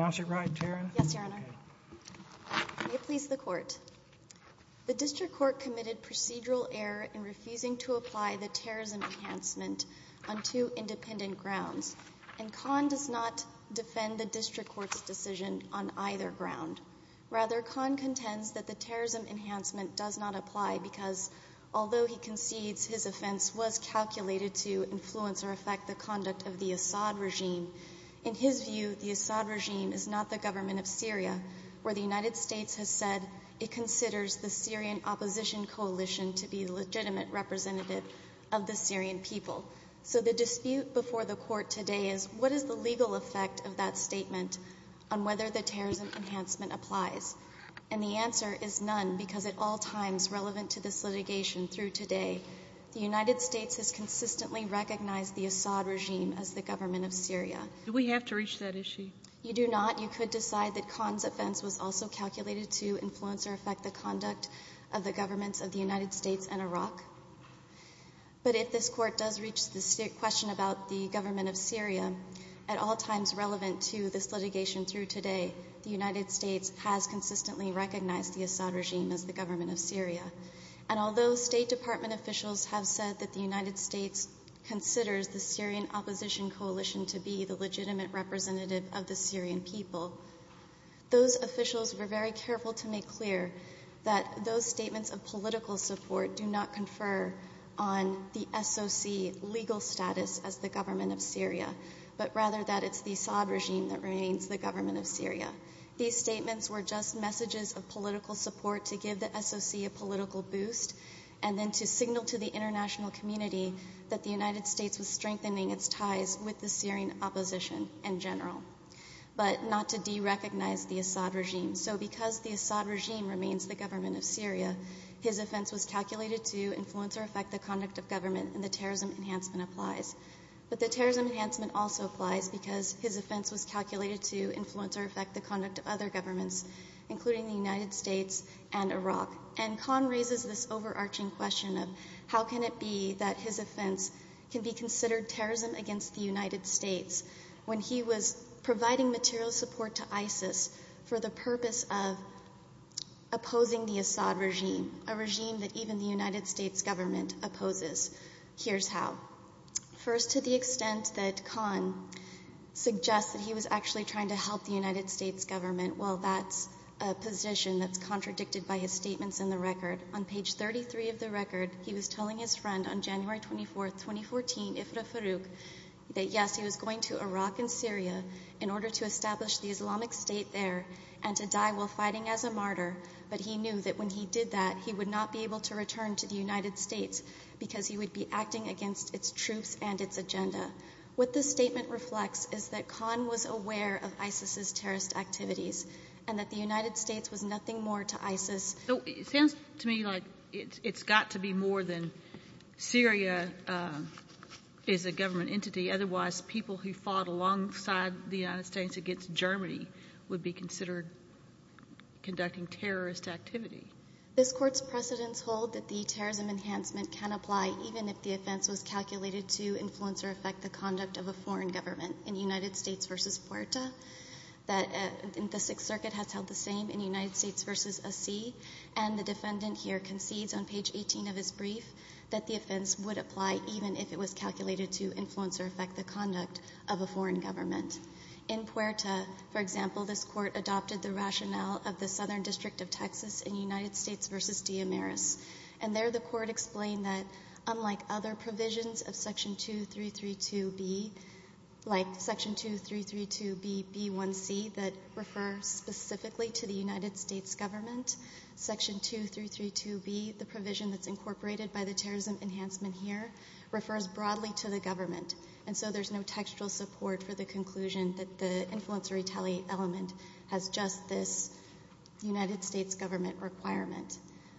The District Court committed procedural error in refusing to apply the terrorism enhancement on two independent grounds, and Khan does not defend the District Court's decision on either ground. Rather, Khan contends that the terrorism enhancement does not apply because, although he concedes his offense was calculated to influence or affect the conduct of the government of Syria, the United States has said it considers the Syrian Opposition Coalition to be a legitimate representative of the Syrian people. So the dispute before the Court today is what is the legal effect of that statement on whether the terrorism enhancement applies? And the answer is none, because at all times relevant to this litigation through today, the United States has consistently recognized the Assad regime as the government of Syria. Sotomayor Do we have to reach that issue? Asher Khan You do not. You could decide that Khan's offense was also calculated to influence or affect the conduct of the governments of the United States and Iraq. But if this Court does reach the question about the government of Syria, at all times relevant to this litigation through today, the United States has consistently recognized the Assad regime as the government of Syria. And although State Department officials have said that the United States considers the Syrian Opposition Coalition to be the legitimate representative of the Syrian people, those officials were very careful to make clear that those statements of political support do not confer on the SOC legal status as the government of Syria, but rather that it's the Assad regime that remains the government of Syria. These statements were just messages of political support to give the SOC a political boost and then to signal to the international community that the United States was strengthening its ties with the Syrian opposition in general. But not to derecognize the Assad regime. So because the Assad regime remains the government of Syria, his offense was calculated to influence or affect the conduct of government and the terrorism enhancement applies. But the terrorism enhancement also applies because his offense was calculated to influence or affect the conduct of other governments, including the that his offense can be considered terrorism against the United States when he was providing material support to ISIS for the purpose of opposing the Assad regime, a regime that even the United States government opposes. Here's how. First, to the extent that Khan suggests that he was actually trying to help the United States government, well, that's a position that's contradicted by his statements in the record. On page 33 of the record, he was telling his friend on January 24, 2014, Ifrah Farouk, that yes, he was going to Iraq and Syria in order to establish the Islamic State there and to die while fighting as a martyr. But he knew that when he did that, he would not be able to return to the United States because he would be acting against its troops and its agenda. What this statement reflects is that Khan was aware of ISIS's terrorist activities and that the United States was nothing more to ISIS. So it sounds to me like it's got to be more than Syria is a government entity. Otherwise, people who fought alongside the United States against Germany would be considered conducting terrorist activity. This court's precedents hold that the terrorism enhancement can apply even if the offense was calculated to influence or affect the conduct of a foreign government in the United States versus Puerto, that the Sixth Circuit has held the same in the United States versus a C, and the defendant here concedes on page 18 of his brief that the offense would apply even if it was calculated to influence or affect the conduct of a foreign government. In Puerto, for example, this court adopted the rationale of the Southern District of Texas in United States versus Diamaris, and there the court explained that unlike other provisions of section 2332B, like section 2332B, B1C, that refer specifically to the United States government, section 2332B, the provision that's incorporated by the terrorism enhancement here, refers broadly to the government. And so there's no textual support for the conclusion that the influence or retaliate element has just this United States government requirement.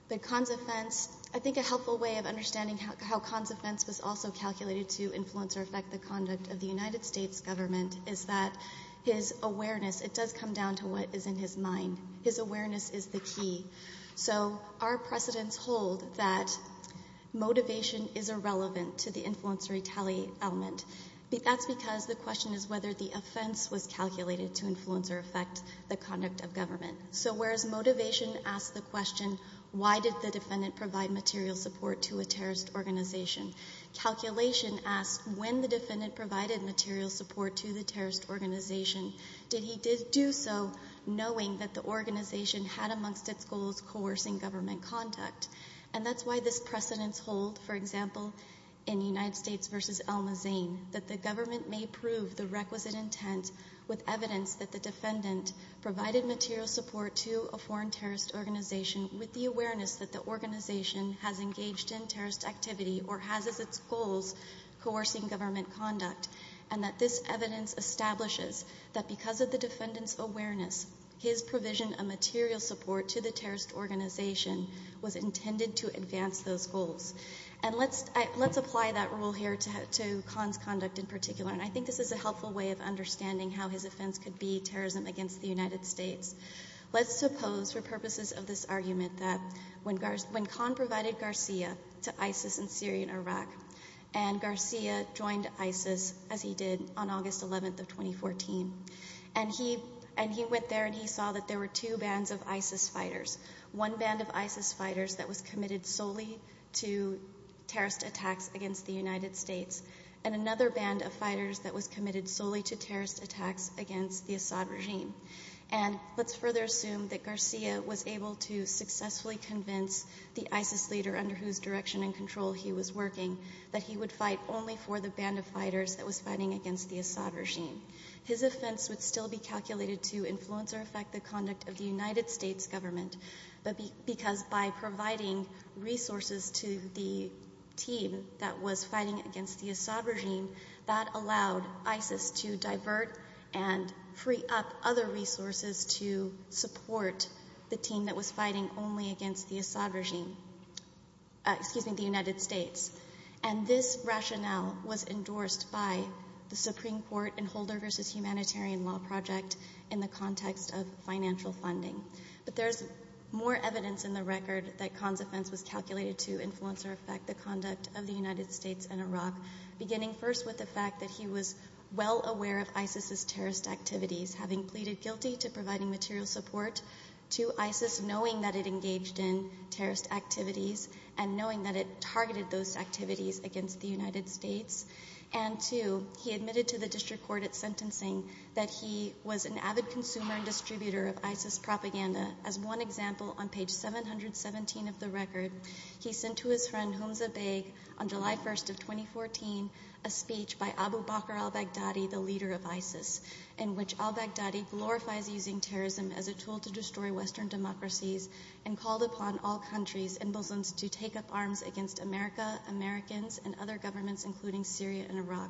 But Khan's offense, I think a helpful way of understanding how Khan's offense was also calculated to influence or affect the conduct of the United States government is that his awareness, it does come down to what is in his mind. His awareness is the key. So our precedents hold that motivation is irrelevant to the influence or retaliate element. That's because the question is whether the offense was calculated to influence or affect the conduct of government. So whereas motivation asks the question, why did the defendant provide material support to a terrorist organization? Calculation asks, when the defendant provided material support to the terrorist organization, did he do so knowing that the organization had amongst its goals coercing government conduct? And that's why this precedents hold, for example, in United States v. Alma Zane, that the government may prove the requisite intent with evidence that the defendant provided material support to a foreign terrorist organization with the awareness that the organization has engaged in terrorist activity or has as its goals coercing government conduct. And that this evidence establishes that because of the defendant's awareness, his provision of material support to the terrorist organization was intended to advance those goals. And let's apply that rule here to Khan's conduct in particular. And I think this is a helpful way of understanding how his offense could be terrorism against the United States. Let's suppose for purposes of this argument that when Khan provided Garcia to ISIS in Syria and Iraq, and Garcia joined ISIS, as he did on August 11th of 2014, and he went there and he saw that there were two bands of ISIS fighters. One band of ISIS fighters that was committed solely to terrorist attacks against the United States, and another band of fighters that was committed solely to terrorist attacks against the Assad regime. And let's further assume that Garcia was able to successfully convince the ISIS leader under whose direction and control he was working that he would fight only for the band of fighters that was fighting against the Assad regime. His offense would still be calculated to influence or affect the conduct of the United States government, because by providing resources to the team that was fighting against the Assad regime, that allowed ISIS to divert and free up other resources to support the team that was fighting only against the Assad regime, excuse me, the United States. And this rationale was endorsed by the Supreme Court in Holder v. Humanitarian Law Project in the context of financial funding. But there's more evidence in the record that Khan's offense was calculated to influence or affect the conduct of the United States and Iraq, beginning first with the fact that he was well aware of ISIS's terrorist activities, having pleaded guilty to providing material support to ISIS, knowing that it engaged in terrorist activities and knowing that it targeted those activities against the United States. And two, he admitted to the district court at sentencing that he was an avid consumer and distributor of ISIS He sent to his friend Humza Beg on July 1st of 2014 a speech by Abu Bakr al-Baghdadi, the leader of ISIS, in which al-Baghdadi glorifies using terrorism as a tool to destroy Western democracies and called upon all countries and Muslims to take up arms against America, Americans and other governments, including Syria and Iraq.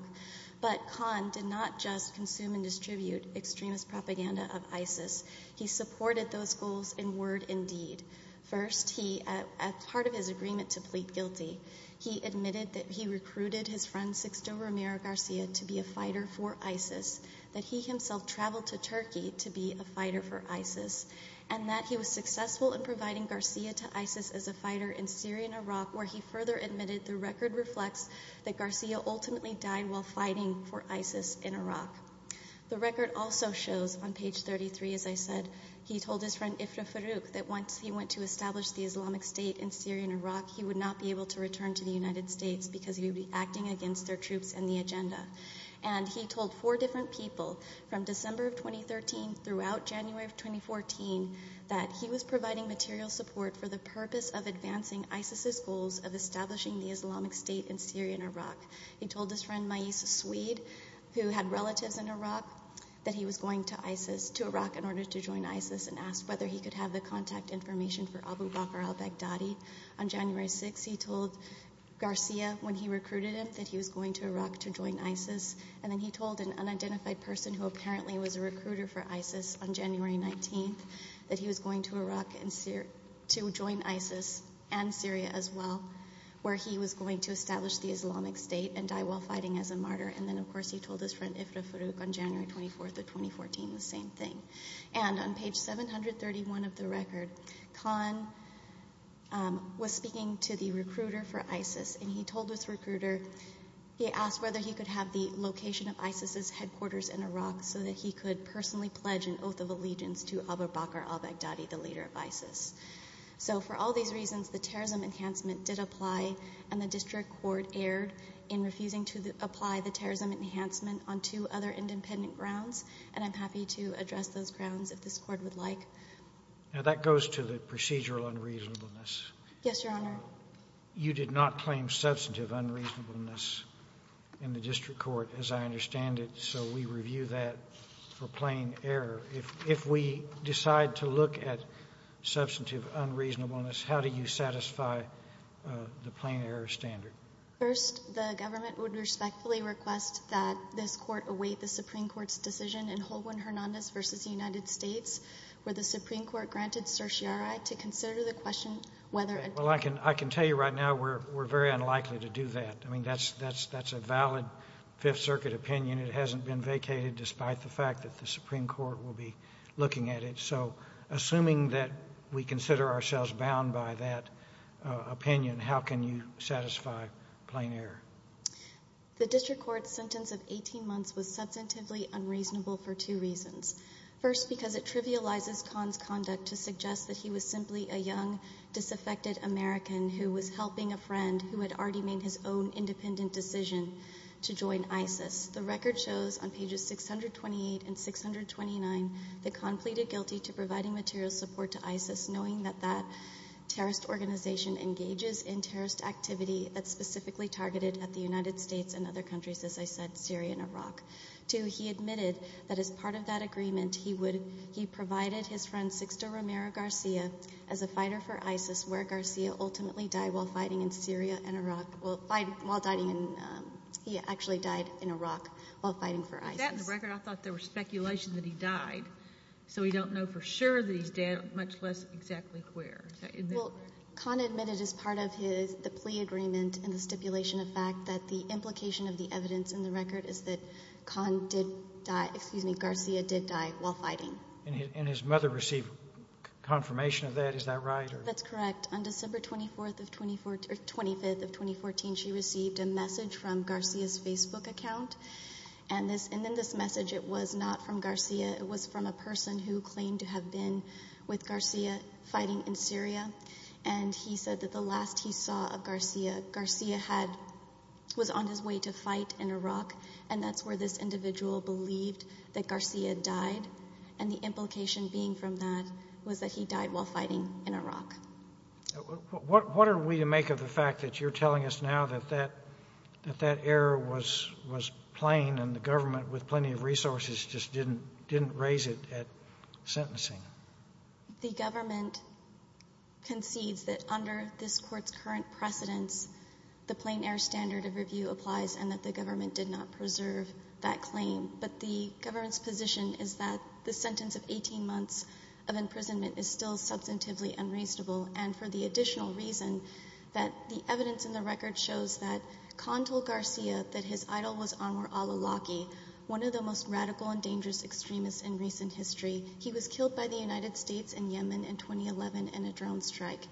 But Khan did not just consume and distribute extremist propaganda of ISIS. He supported those goals in word and deed. First, as part of his agreement to plead guilty, he admitted that he recruited his friend Sexto Romero Garcia to be a fighter for ISIS, that he himself traveled to Turkey to be a fighter for ISIS, and that he was successful in providing Garcia to ISIS as a fighter in Syria and Iraq, where he further admitted the record reflects that Garcia ultimately died while fighting for ISIS in Iraq. The record also shows on page 33, as I said, he told his friend Ifrah went to establish the Islamic State in Syria and Iraq, he would not be able to return to the United States because he would be acting against their troops and the agenda. And he told four different people from December of 2013 throughout January of 2014 that he was providing material support for the purpose of advancing ISIS's goals of establishing the Islamic State in Syria and Iraq. He told his friend Mayis Swede, who had relatives in Iraq, that he was going to ISIS, to Iraq in order to join ISIS, and asked whether he could have the contact information for Abu Bakr al-Baghdadi. On January 6, he told Garcia, when he recruited him, that he was going to Iraq to join ISIS. And then he told an unidentified person who apparently was a recruiter for ISIS on January 19, that he was going to Iraq to join ISIS and Syria as well, where he was going to establish the Islamic State and die while fighting as a martyr. And then, of course, he told his friend Ifrah Farouk on January 24 of 2014 the same thing. And on page 731 of the record, Khan was speaking to the recruiter for ISIS, and he told this recruiter, he asked whether he could have the location of ISIS's headquarters in Iraq so that he could personally pledge an oath of allegiance to Abu Bakr al-Baghdadi, the leader of ISIS. So for all these reasons, the terrorism enhancement did apply, and the I'm happy to address those grounds if this Court would like. Now, that goes to the procedural unreasonableness. Yes, Your Honor. You did not claim substantive unreasonableness in the district court, as I understand it, so we review that for plain error. If we decide to look at substantive unreasonableness, how do you satisfy the plain error standard? First, the government would respectfully request that this Court await the Supreme Court's decision in Holguin-Hernandez v. United States, where the Supreme Court granted certiorari to consider the question whether a Well, I can tell you right now we're very unlikely to do that. I mean, that's a valid Fifth Circuit opinion. It hasn't been vacated, despite the fact that the Supreme Court will be looking at it. So assuming that we consider ourselves bound by that opinion, how can you satisfy plain error? The district court's sentence of 18 months was substantively unreasonable for two reasons. First, because it trivializes Kahn's conduct to suggest that he was simply a young, disaffected American who was helping a friend who had already made his own independent decision to join ISIS. The record shows on pages 628 and 629 that Kahn pleaded guilty to providing material support to ISIS, knowing that that terrorist organization engages in terrorist activity that's specifically targeted at the United States and other countries, as I said, Syria and Iraq. Two, he admitted that as part of that agreement, he provided his friend Sixto Romero-Garcia as a fighter for ISIS, where Garcia ultimately died while fighting in Syria and Iraq, well, while fighting, he actually died in Iraq while fighting for ISIS. With that in the record, I thought there was speculation that he died. So we don't know for sure that he's dead, much less exactly where. Well, Kahn admitted as part of the plea agreement and the stipulation of fact that the implication of the evidence in the record is that Kahn did die, excuse me, Garcia did die while fighting. And his mother received confirmation of that, is that right? That's correct. On December 24th of 2014, or 25th of 2014, she received a message from Garcia's Facebook account. And then this message, it was not from Garcia, it was from a person who claimed to have been with Garcia fighting in Syria. And he said that the last he saw of Garcia, Garcia had, was on his way to fight in Iraq, and that's where this individual believed that Garcia died. And the implication being from that was that he died while fighting in Iraq. What are we to make of the fact that you're telling us now that that error was plain and the government, with plenty of resources, just didn't, didn't raise it at sentencing? The government concedes that under this Court's current precedence, the plain air standard of review applies and that the government did not preserve that claim. But the government's position is that the sentence of 18 months of imprisonment is still substantively unreasonable. And for the additional reason that the evidence in the record shows that Kahn told Garcia that his idol was Anwar al-Awlaki, one of the most radical and dangerous extremists in recent history, he was killed by the United States in Yemen in 2011 in a drone strike.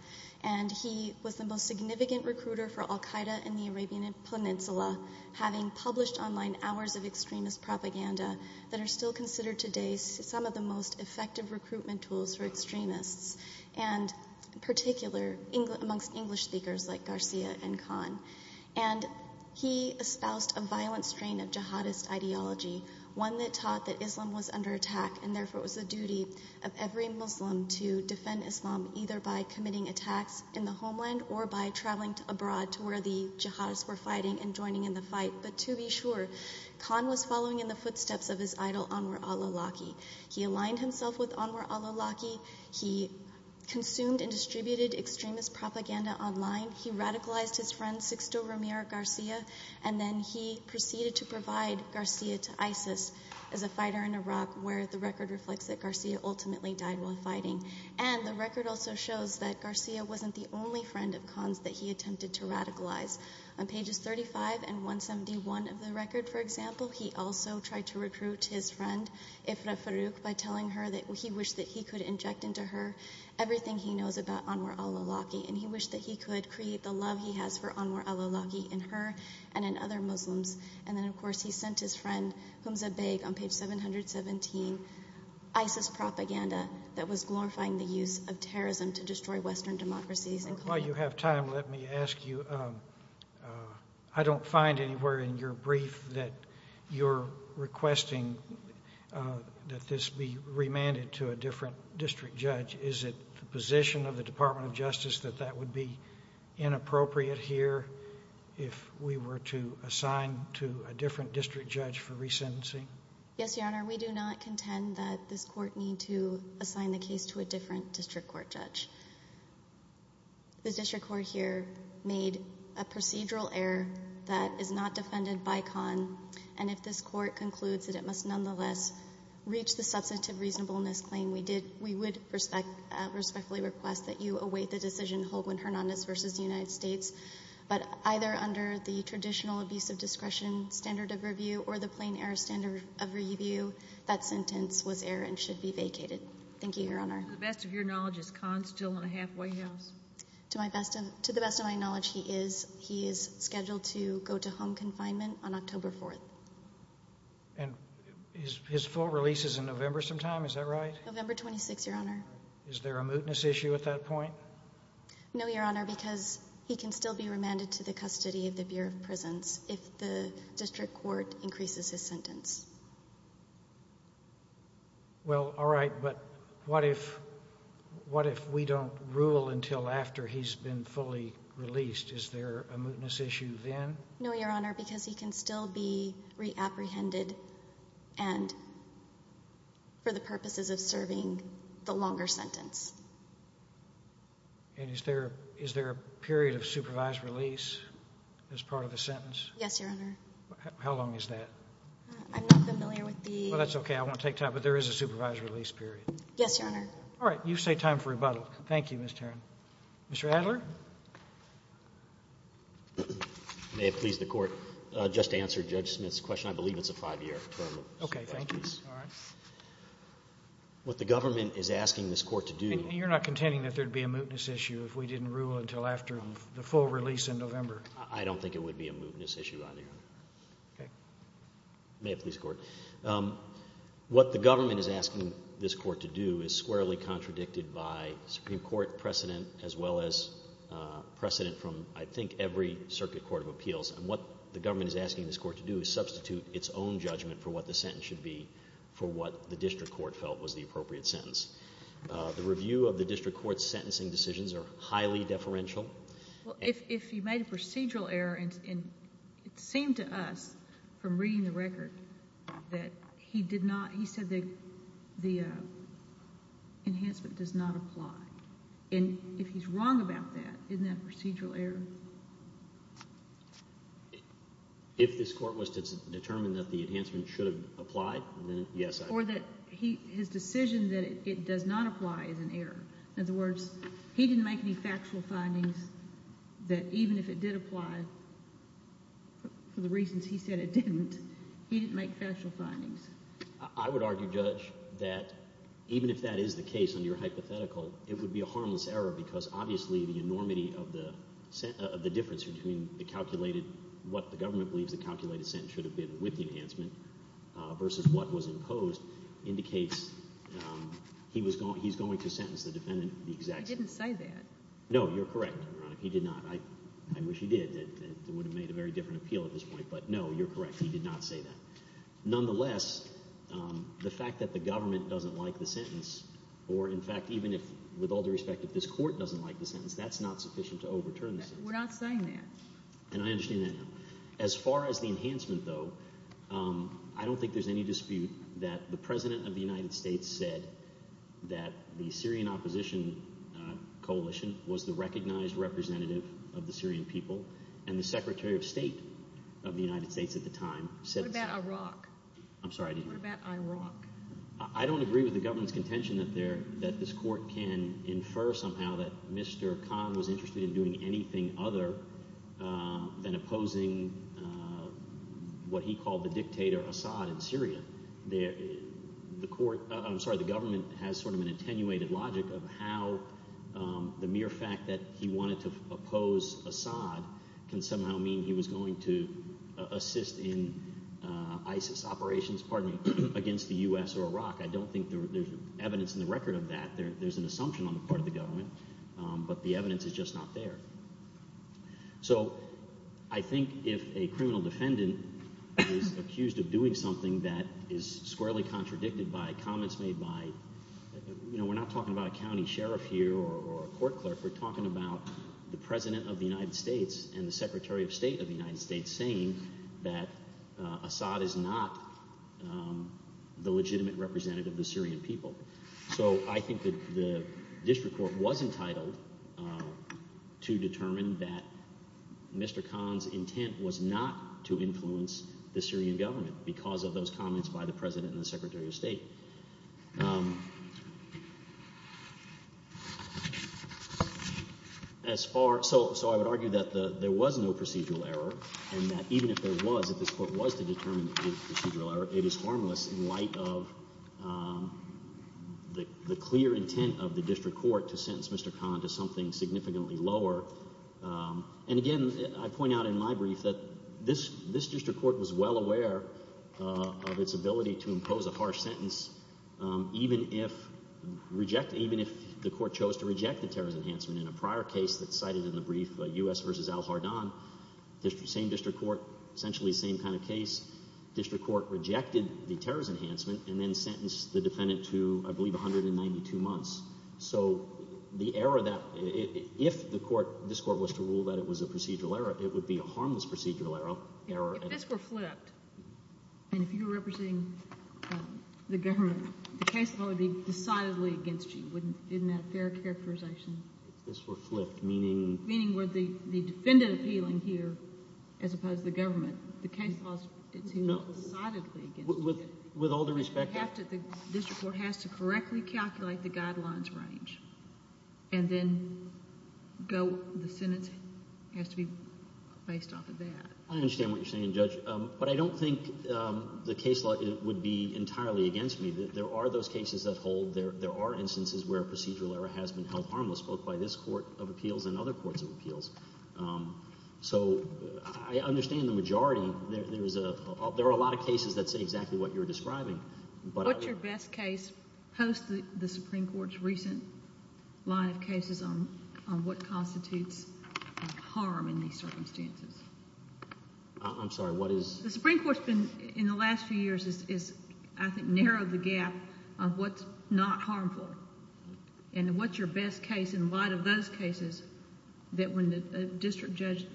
And he was the most significant recruiter for al-Qaeda in the Arabian Peninsula, having published online hours of extremist propaganda that are still considered today some of the most effective recruitment tools for extremists. And in particular, amongst English speakers like Garcia and Kahn. And he espoused a violent strain of jihadist ideology, one that taught that Islam was under attack and therefore it was the duty of every Muslim to defend Islam either by committing attacks in the homeland or by traveling abroad to where the jihadists were fighting and joining in the fight. But to be sure, Kahn was following in the footsteps of his idol, Anwar al-Awlaki. He aligned himself with Anwar al-Awlaki. He consumed and distributed extremist propaganda online. He radicalized his friend Sixto Ramiro Garcia and then he proceeded to provide Garcia to ISIS as a fighter in Iraq where the record reflects that Garcia ultimately died while fighting. And the record also shows that Garcia wasn't the only friend of Kahn's that he attempted to radicalize. On pages 35 and 171 of the record, for example, he also tried to recruit his friend, Ifrah Farouk, by telling her that he wished that he could inject into her everything he knows about Anwar al-Awlaki and he wished that he could create the love he has for Anwar al-Awlaki in her and in other Muslims. And then of course he sent his friend, Humza Baig, on page 717, ISIS propaganda that was glorifying the use of terrorism to destroy Western democracies. While you have time, let me ask you, I don't find anywhere in your brief that you're requesting that this be remanded to a different district judge. Is it the position of the Department of Justice that that would be inappropriate here if we were to assign to a different district judge for resentencing? Yes, Your Honor. We do not contend that this court need to assign the case to a different district court judge. The district court here made a procedural error that is not defended by Khan. And if this court concludes that it must nonetheless reach the substantive reasonableness claim, we would respectfully request that you await the decision, Holguin Hernandez v. United States. But either under the traditional abusive discretion standard of review or the plain error standard of review, that sentence was error and should be vacated. Thank you, Your Honor. To the best of your knowledge, is Khan still in a halfway house? To the best of my knowledge, he is. He is scheduled to go to home confinement on October 4th. And his full release is in November sometime, is that right? November 26th, Your Honor. Is there a mootness issue at that point? No, Your Honor, because he can still be remanded to the custody of the Bureau of Prisons if the district court increases his sentence. Well, all right, but what if we don't rule until after he's been fully released? Is there a mootness issue then? No, Your Honor, because he can still be reapprehended and for the purposes of serving the longer sentence. And is there a period of supervised release as part of the sentence? Yes, Your Honor. How long is that? I'm not familiar with the... Well, that's okay, I won't take time, but there is a supervised release period. Yes, Your Honor. All right, you say time for rebuttal. Thank you, Ms. Tarrant. Mr. Adler? May it please the Court, just to answer Judge Smith's question, I believe it's a five-year term. Okay, thank you. All right. What the government is asking this Court to do... And you're not contending that there'd be a mootness issue if we didn't rule until after the full release in November? I don't think it would be a mootness issue either, Your Honor. Okay. May it please the Court. What the government is asking this Court to do is squarely contradicted by Supreme Court precedent as well as precedent from, I think, every circuit court of appeals. And what the government is asking this Court to do is substitute its own judgment for what the sentence should be for what the district court felt was the appropriate sentence. The review of the district court's sentencing decisions are highly deferential. Well, if you made a procedural error, and it seemed to us from reading the record that he did not... he said that the enhancement does not apply. And if he's wrong about that, isn't that a procedural error? If this Court was to determine that the enhancement should have applied, then yes, I... Or that his decision that it does not apply is an error. In other words, he didn't make any factual findings that even if it did apply, for the reasons he said it didn't, he didn't make factual findings. I would argue, Judge, that even if that is the case under your hypothetical, it would be a harmless error because, obviously, the enormity of the difference between the calculated... what the government believes the calculated sentence should have been with the enhancement versus what was imposed indicates he's going to sentence the defendant the exact same way. He didn't say that. No, you're correct, Your Honor. He did not. I wish he did. It would have made a very different appeal at this point. But, no, you're correct. He did not say that. Nonetheless, the fact that the government doesn't like the sentence, or, in fact, even if, with all due respect, if this Court doesn't like the sentence, that's not sufficient to overturn the sentence. We're not saying that. And I understand that now. As far as the enhancement, though, I don't think there's any dispute that the President of the United States said that the Syrian opposition coalition was the recognized representative of the Syrian people, and the Secretary of State of the United States at the time said... What about Iraq? I'm sorry, I didn't hear you. What about Iraq? I don't agree with the government's contention that this Court can infer somehow that Mr. Khan was interested in doing anything other than opposing what he called the dictator Assad in Syria. I'm sorry, the government has sort of an attenuated logic of how the mere fact that he wanted to oppose Assad can somehow mean he was going to assist in ISIS operations, pardon me, against the U.S. or Iraq. I don't think there's evidence in the record of that. There's an assumption on the part of the government, but the evidence is just not there. So I think if a criminal defendant is accused of doing something that is squarely contradicted by comments made by... we're not talking about a county sheriff here or a court clerk. We're talking about the President of the United States and the Secretary of State of the United States saying that Assad is not the legitimate representative of the Syrian people. So I think that the district court was entitled to determine that Mr. Khan's intent was not to influence the Syrian government because of those comments by the President and the Secretary of State. So I would argue that there was no procedural error and that even if there was, if this was in light of the clear intent of the district court to sentence Mr. Khan to something significantly lower. And again, I point out in my brief that this district court was well aware of its ability to impose a harsh sentence even if the court chose to reject the terrorist enhancement. In a prior case that's cited in the brief, U.S. v. al-Hardan, same district court, essentially the same kind of case, district court rejected the terrorist enhancement and then sentenced the defendant to, I believe, 192 months. So the error that... if this court was to rule that it was a procedural error, it would be a harmless procedural error. If this were flipped and if you were representing the government, the case would probably be decidedly against you. Wouldn't that be a fair characterization? If this were flipped, meaning... No. With all due respect... The district court has to correctly calculate the guidelines range. And then the sentence has to be based off of that. I understand what you're saying, Judge. But I don't think the case law would be entirely against me. There are those cases that hold. There are instances where procedural error has been held harmless, both by this court of appeals and other courts of appeals. So I understand the majority. There are a lot of cases that say exactly what you're describing. What's your best case, post the Supreme Court's recent line of cases, on what constitutes harm in these circumstances? I'm sorry. What is... The Supreme Court's been, in the last few years, has, I think, narrowed the gap of what's not harmful. And what's your best case, in light of those cases, that when the district judge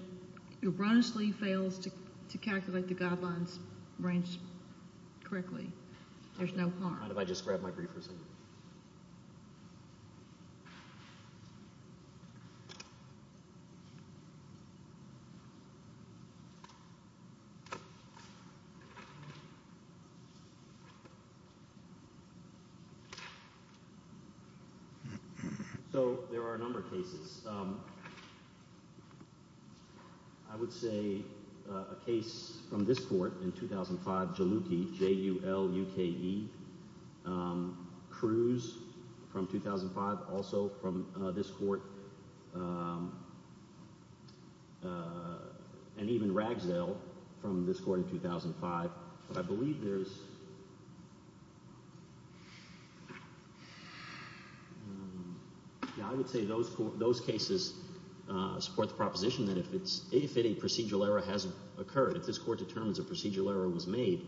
erroneously fails to calculate the guidelines range correctly, there's no harm? Why don't I just grab my briefers? So there are a number of cases. I would say a case from this court in 2005, Jaluke, J-U-L-U-K-E, Cruz from 2005, also from this court, and even Ragsdale from this court in 2005. But I believe there's... Yeah, I would say those cases support the proposition that if a procedural error has occurred, if this court determines a procedural error was made,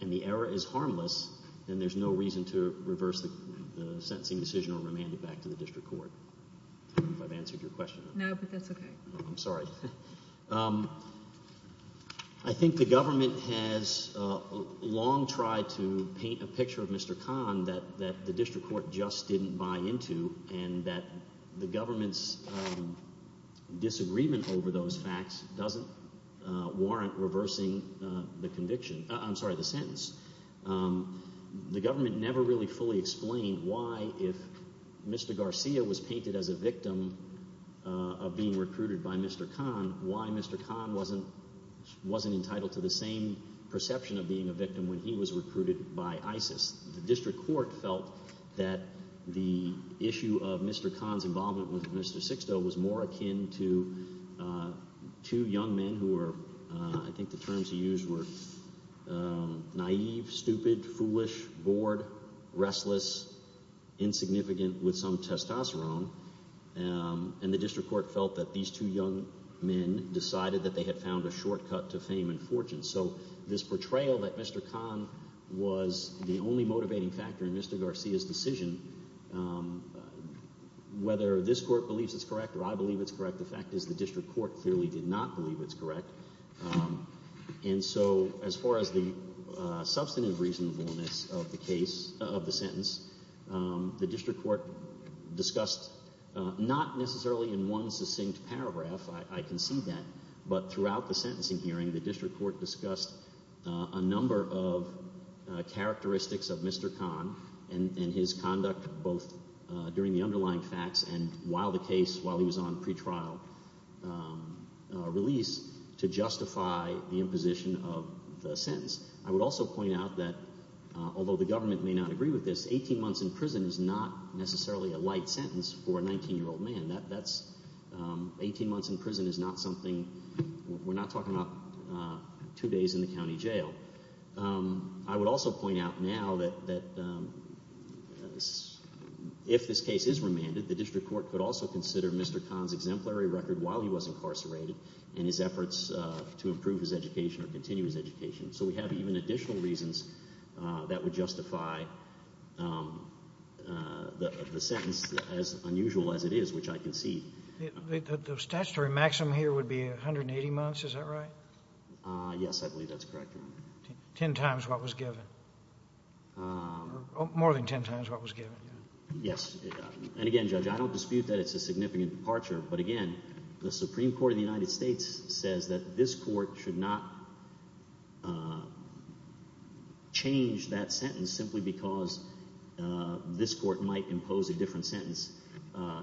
and the error is harmless, then there's no reason to reverse the sentencing decision or remand it back to the district court. I don't know if I've answered your question. No, but that's okay. I'm sorry. I think the government has long tried to paint a picture of Mr. Khan that the district court just didn't buy into, and that the government's disagreement over those facts doesn't warrant reversing the conviction—I'm sorry, the sentence. The government never really fully explained why, if Mr. Garcia was painted as a victim of being recruited by Mr. Khan, why Mr. Khan wasn't entitled to the same perception of being a victim when he was recruited by ISIS. The district court felt that the issue of Mr. Khan's involvement with Mr. Sixto was more akin to two young men who were—I think the terms he used were naïve, stupid, foolish, bored, restless, insignificant, with some testosterone. And the district court felt that these two young men decided that they had found a shortcut to fame and fortune. So this portrayal that Mr. Khan was the only motivating factor in Mr. Garcia's decision, whether this court believes it's correct or I believe it's correct, the fact is the district court clearly did not believe it's correct. And so as far as the substantive reasonableness of the sentence, the district court discussed not necessarily in one succinct paragraph—I concede that—but throughout the sentencing hearing, the district court discussed a number of characteristics of Mr. Khan and his conduct both during the underlying facts and while the case, while he was on pretrial release to justify the imposition of the sentence. I would also point out that although the government may not agree with this, 18 months in prison is not necessarily a light sentence for a 19-year-old man. That's—18 months in prison is not something—we're not talking about two days in the county jail. I would also point out now that if this case is remanded, the district court could also consider Mr. Khan's exemplary record while he was incarcerated and his efforts to improve his education or continue his education. So we have even additional reasons that would justify the sentence as unusual as it is, which I concede. The statutory maximum here would be 180 months, is that right? Yes, I believe that's correct. Ten times what was given. More than ten times what was given. Yes. And again, Judge, I don't dispute that it's a significant departure. But again, the Supreme Court of the United States says that this court should not change that sentence simply because this court might impose a different sentence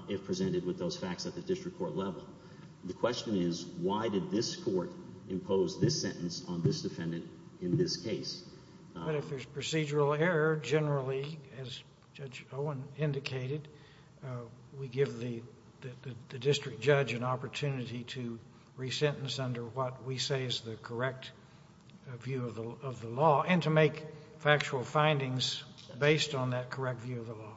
if presented with those facts at the district court level. The question is why did this court impose this sentence on this defendant in this case? But if there's procedural error, generally, as Judge Owen indicated, we give the district judge an opportunity to resentence under what we say is the correct view of the law and to make factual findings based on that correct view of the law.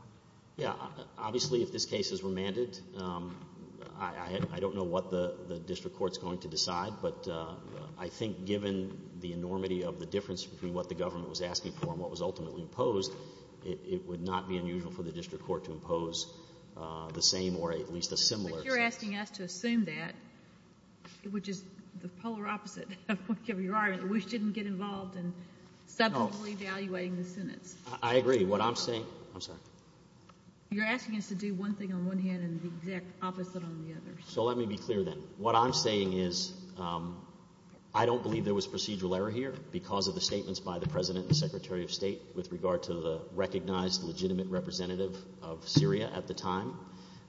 Yes. Obviously, if this case is remanded, I don't know what the district court is going to decide. But I think given the enormity of the difference between what the government was asking for and what was ultimately imposed, it would not be unusual for the district court to impose the same or at least a similar sentence. But you're asking us to assume that, which is the polar opposite of whatever you're arguing, that we shouldn't get involved in subsequently evaluating the sentence. I agree. What I'm saying — I'm sorry. You're asking us to do one thing on one hand and the exact opposite on the other. So let me be clear then. What I'm saying is I don't believe there was procedural error here because of the statements by the President and Secretary of State with regard to the recognized legitimate representative of Syria at the time.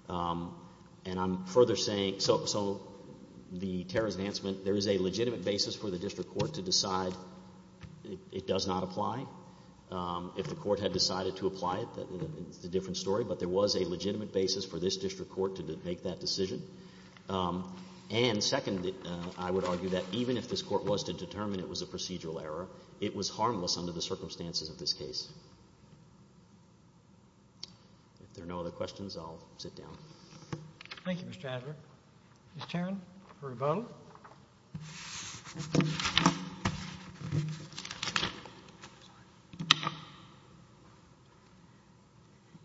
And I'm further saying — so the terrorist enhancement, there is a legitimate basis for the district court to decide it does not apply. If the court had decided to apply it, it's a different story. But there was a legitimate basis for this district court to make that decision. And second, I would argue that even if this court was to determine it was a procedural error, it was harmless under the circumstances of this case. If there are no other questions, I'll sit down. Thank you, Mr. Adler. Ms. Tarrant for rebuttal.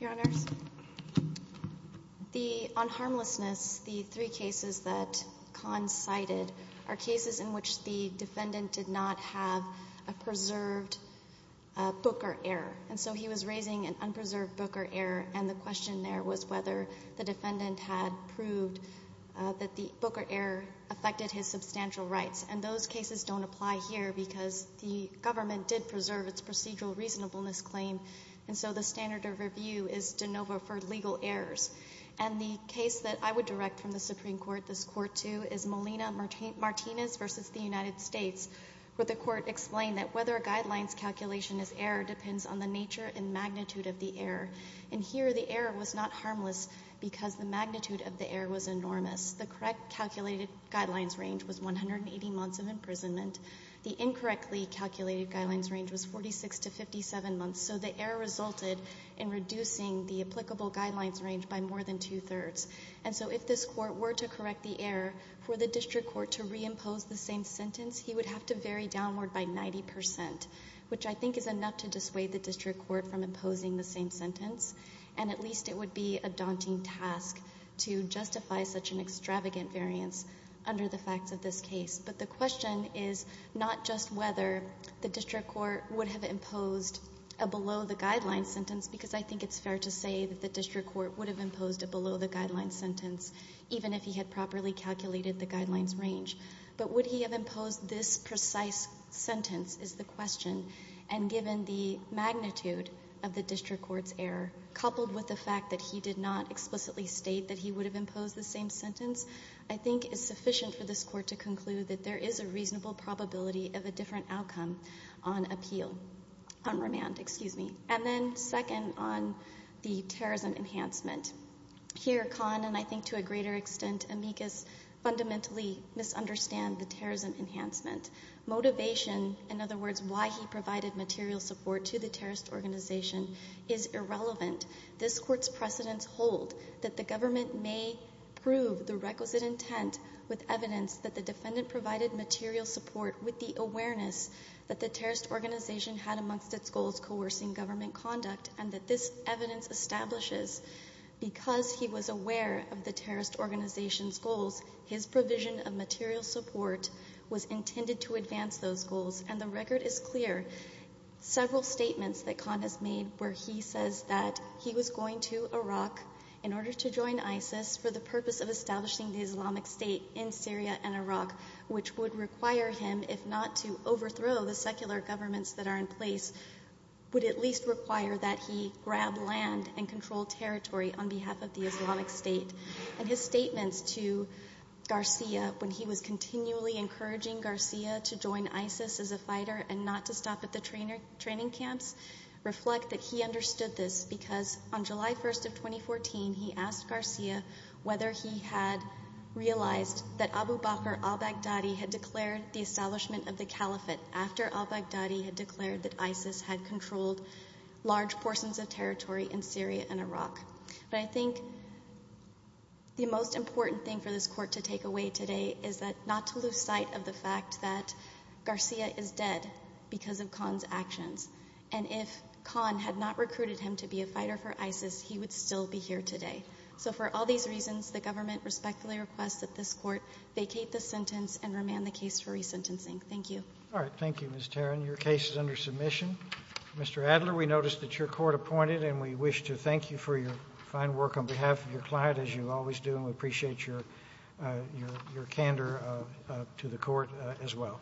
Your Honors, on harmlessness, the three cases that Kahn cited are cases in which the defendant did not have a preserved booker error. And so he was raising an unpreserved booker error, and the question there was whether the defendant had proved that the booker error affected his substantial rights. And those cases don't apply here because the government did preserve its procedural reasonableness claim, and so the standard of review is de novo for legal errors. And the case that I would direct from the Supreme Court this court to is Molina-Martinez versus the United States, where the court explained that whether a guideline's calculation is error depends on the nature and magnitude of the error. And here the error was not harmless because the magnitude of the error was enormous. The correct calculated guidelines range was 180 months of imprisonment. The incorrectly calculated guidelines range was 46 to 57 months, so the error resulted in reducing the applicable guidelines range by more than two-thirds. And so if this court were to correct the error for the district court to reimpose the same sentence, he would have to vary downward by 90 percent, which I think is enough to dissuade the district court from imposing the same sentence, and at least it would be a daunting task to justify such an extravagant variance under the facts of this case. But the question is not just whether the district court would have imposed a below-the-guidelines sentence because I think it's fair to say that the district court would have imposed a below-the-guidelines sentence even if he had properly calculated the guidelines range, but would he have imposed this precise sentence is the question. And given the magnitude of the district court's error, coupled with the fact that he did not explicitly state that he would have imposed the same sentence, I think it's sufficient for this court to conclude that there is a reasonable probability of a different outcome on appeal, on remand, excuse me, and then second, on the terrorism enhancement. Here, Kahn, and I think to a greater extent Amicus, fundamentally misunderstand the terrorism enhancement. Motivation, in other words, why he provided material support to the terrorist organization is irrelevant. This court's precedents hold that the government may prove the requisite intent with evidence that the defendant provided material support with the awareness that the terrorist organization had amongst its goals coercing government conduct and that this evidence establishes because he was aware of the terrorist organization's goals, his provision of material support was intended to advance those goals. And the record is clear. Several statements that Kahn has made where he says that he was going to Iraq in order to join ISIS for the purpose of establishing the Islamic State in Syria and Iraq, which would require him, if not to overthrow the secular governments that are in place, would at least require that he grab land and control territory on behalf of the Islamic State. And his statements to Garcia when he was continually encouraging Garcia to join ISIS as a fighter and not to stop at the training camps reflect that he understood this because on July 1st of 2014, he asked Garcia whether he had realized that Abu Bakr al-Baghdadi had declared the establishment of the caliphate after al-Baghdadi had declared that ISIS had controlled large portions of territory in Syria and Iraq. But I think the most important thing for this court to take away today is not to lose sight of the fact that Garcia is dead because of Kahn's actions. And if Kahn had not recruited him to be a fighter for ISIS, he would still be here today. So for all these reasons, the government respectfully requests that this court vacate the sentence and remand the case for resentencing. Thank you. All right. Thank you, Ms. Taran. Your case is under submission. Mr. Adler, we noticed that your court appointed, and we wish to thank you for your fine work on behalf of your client, as you always do, and we appreciate your candor to the court as well.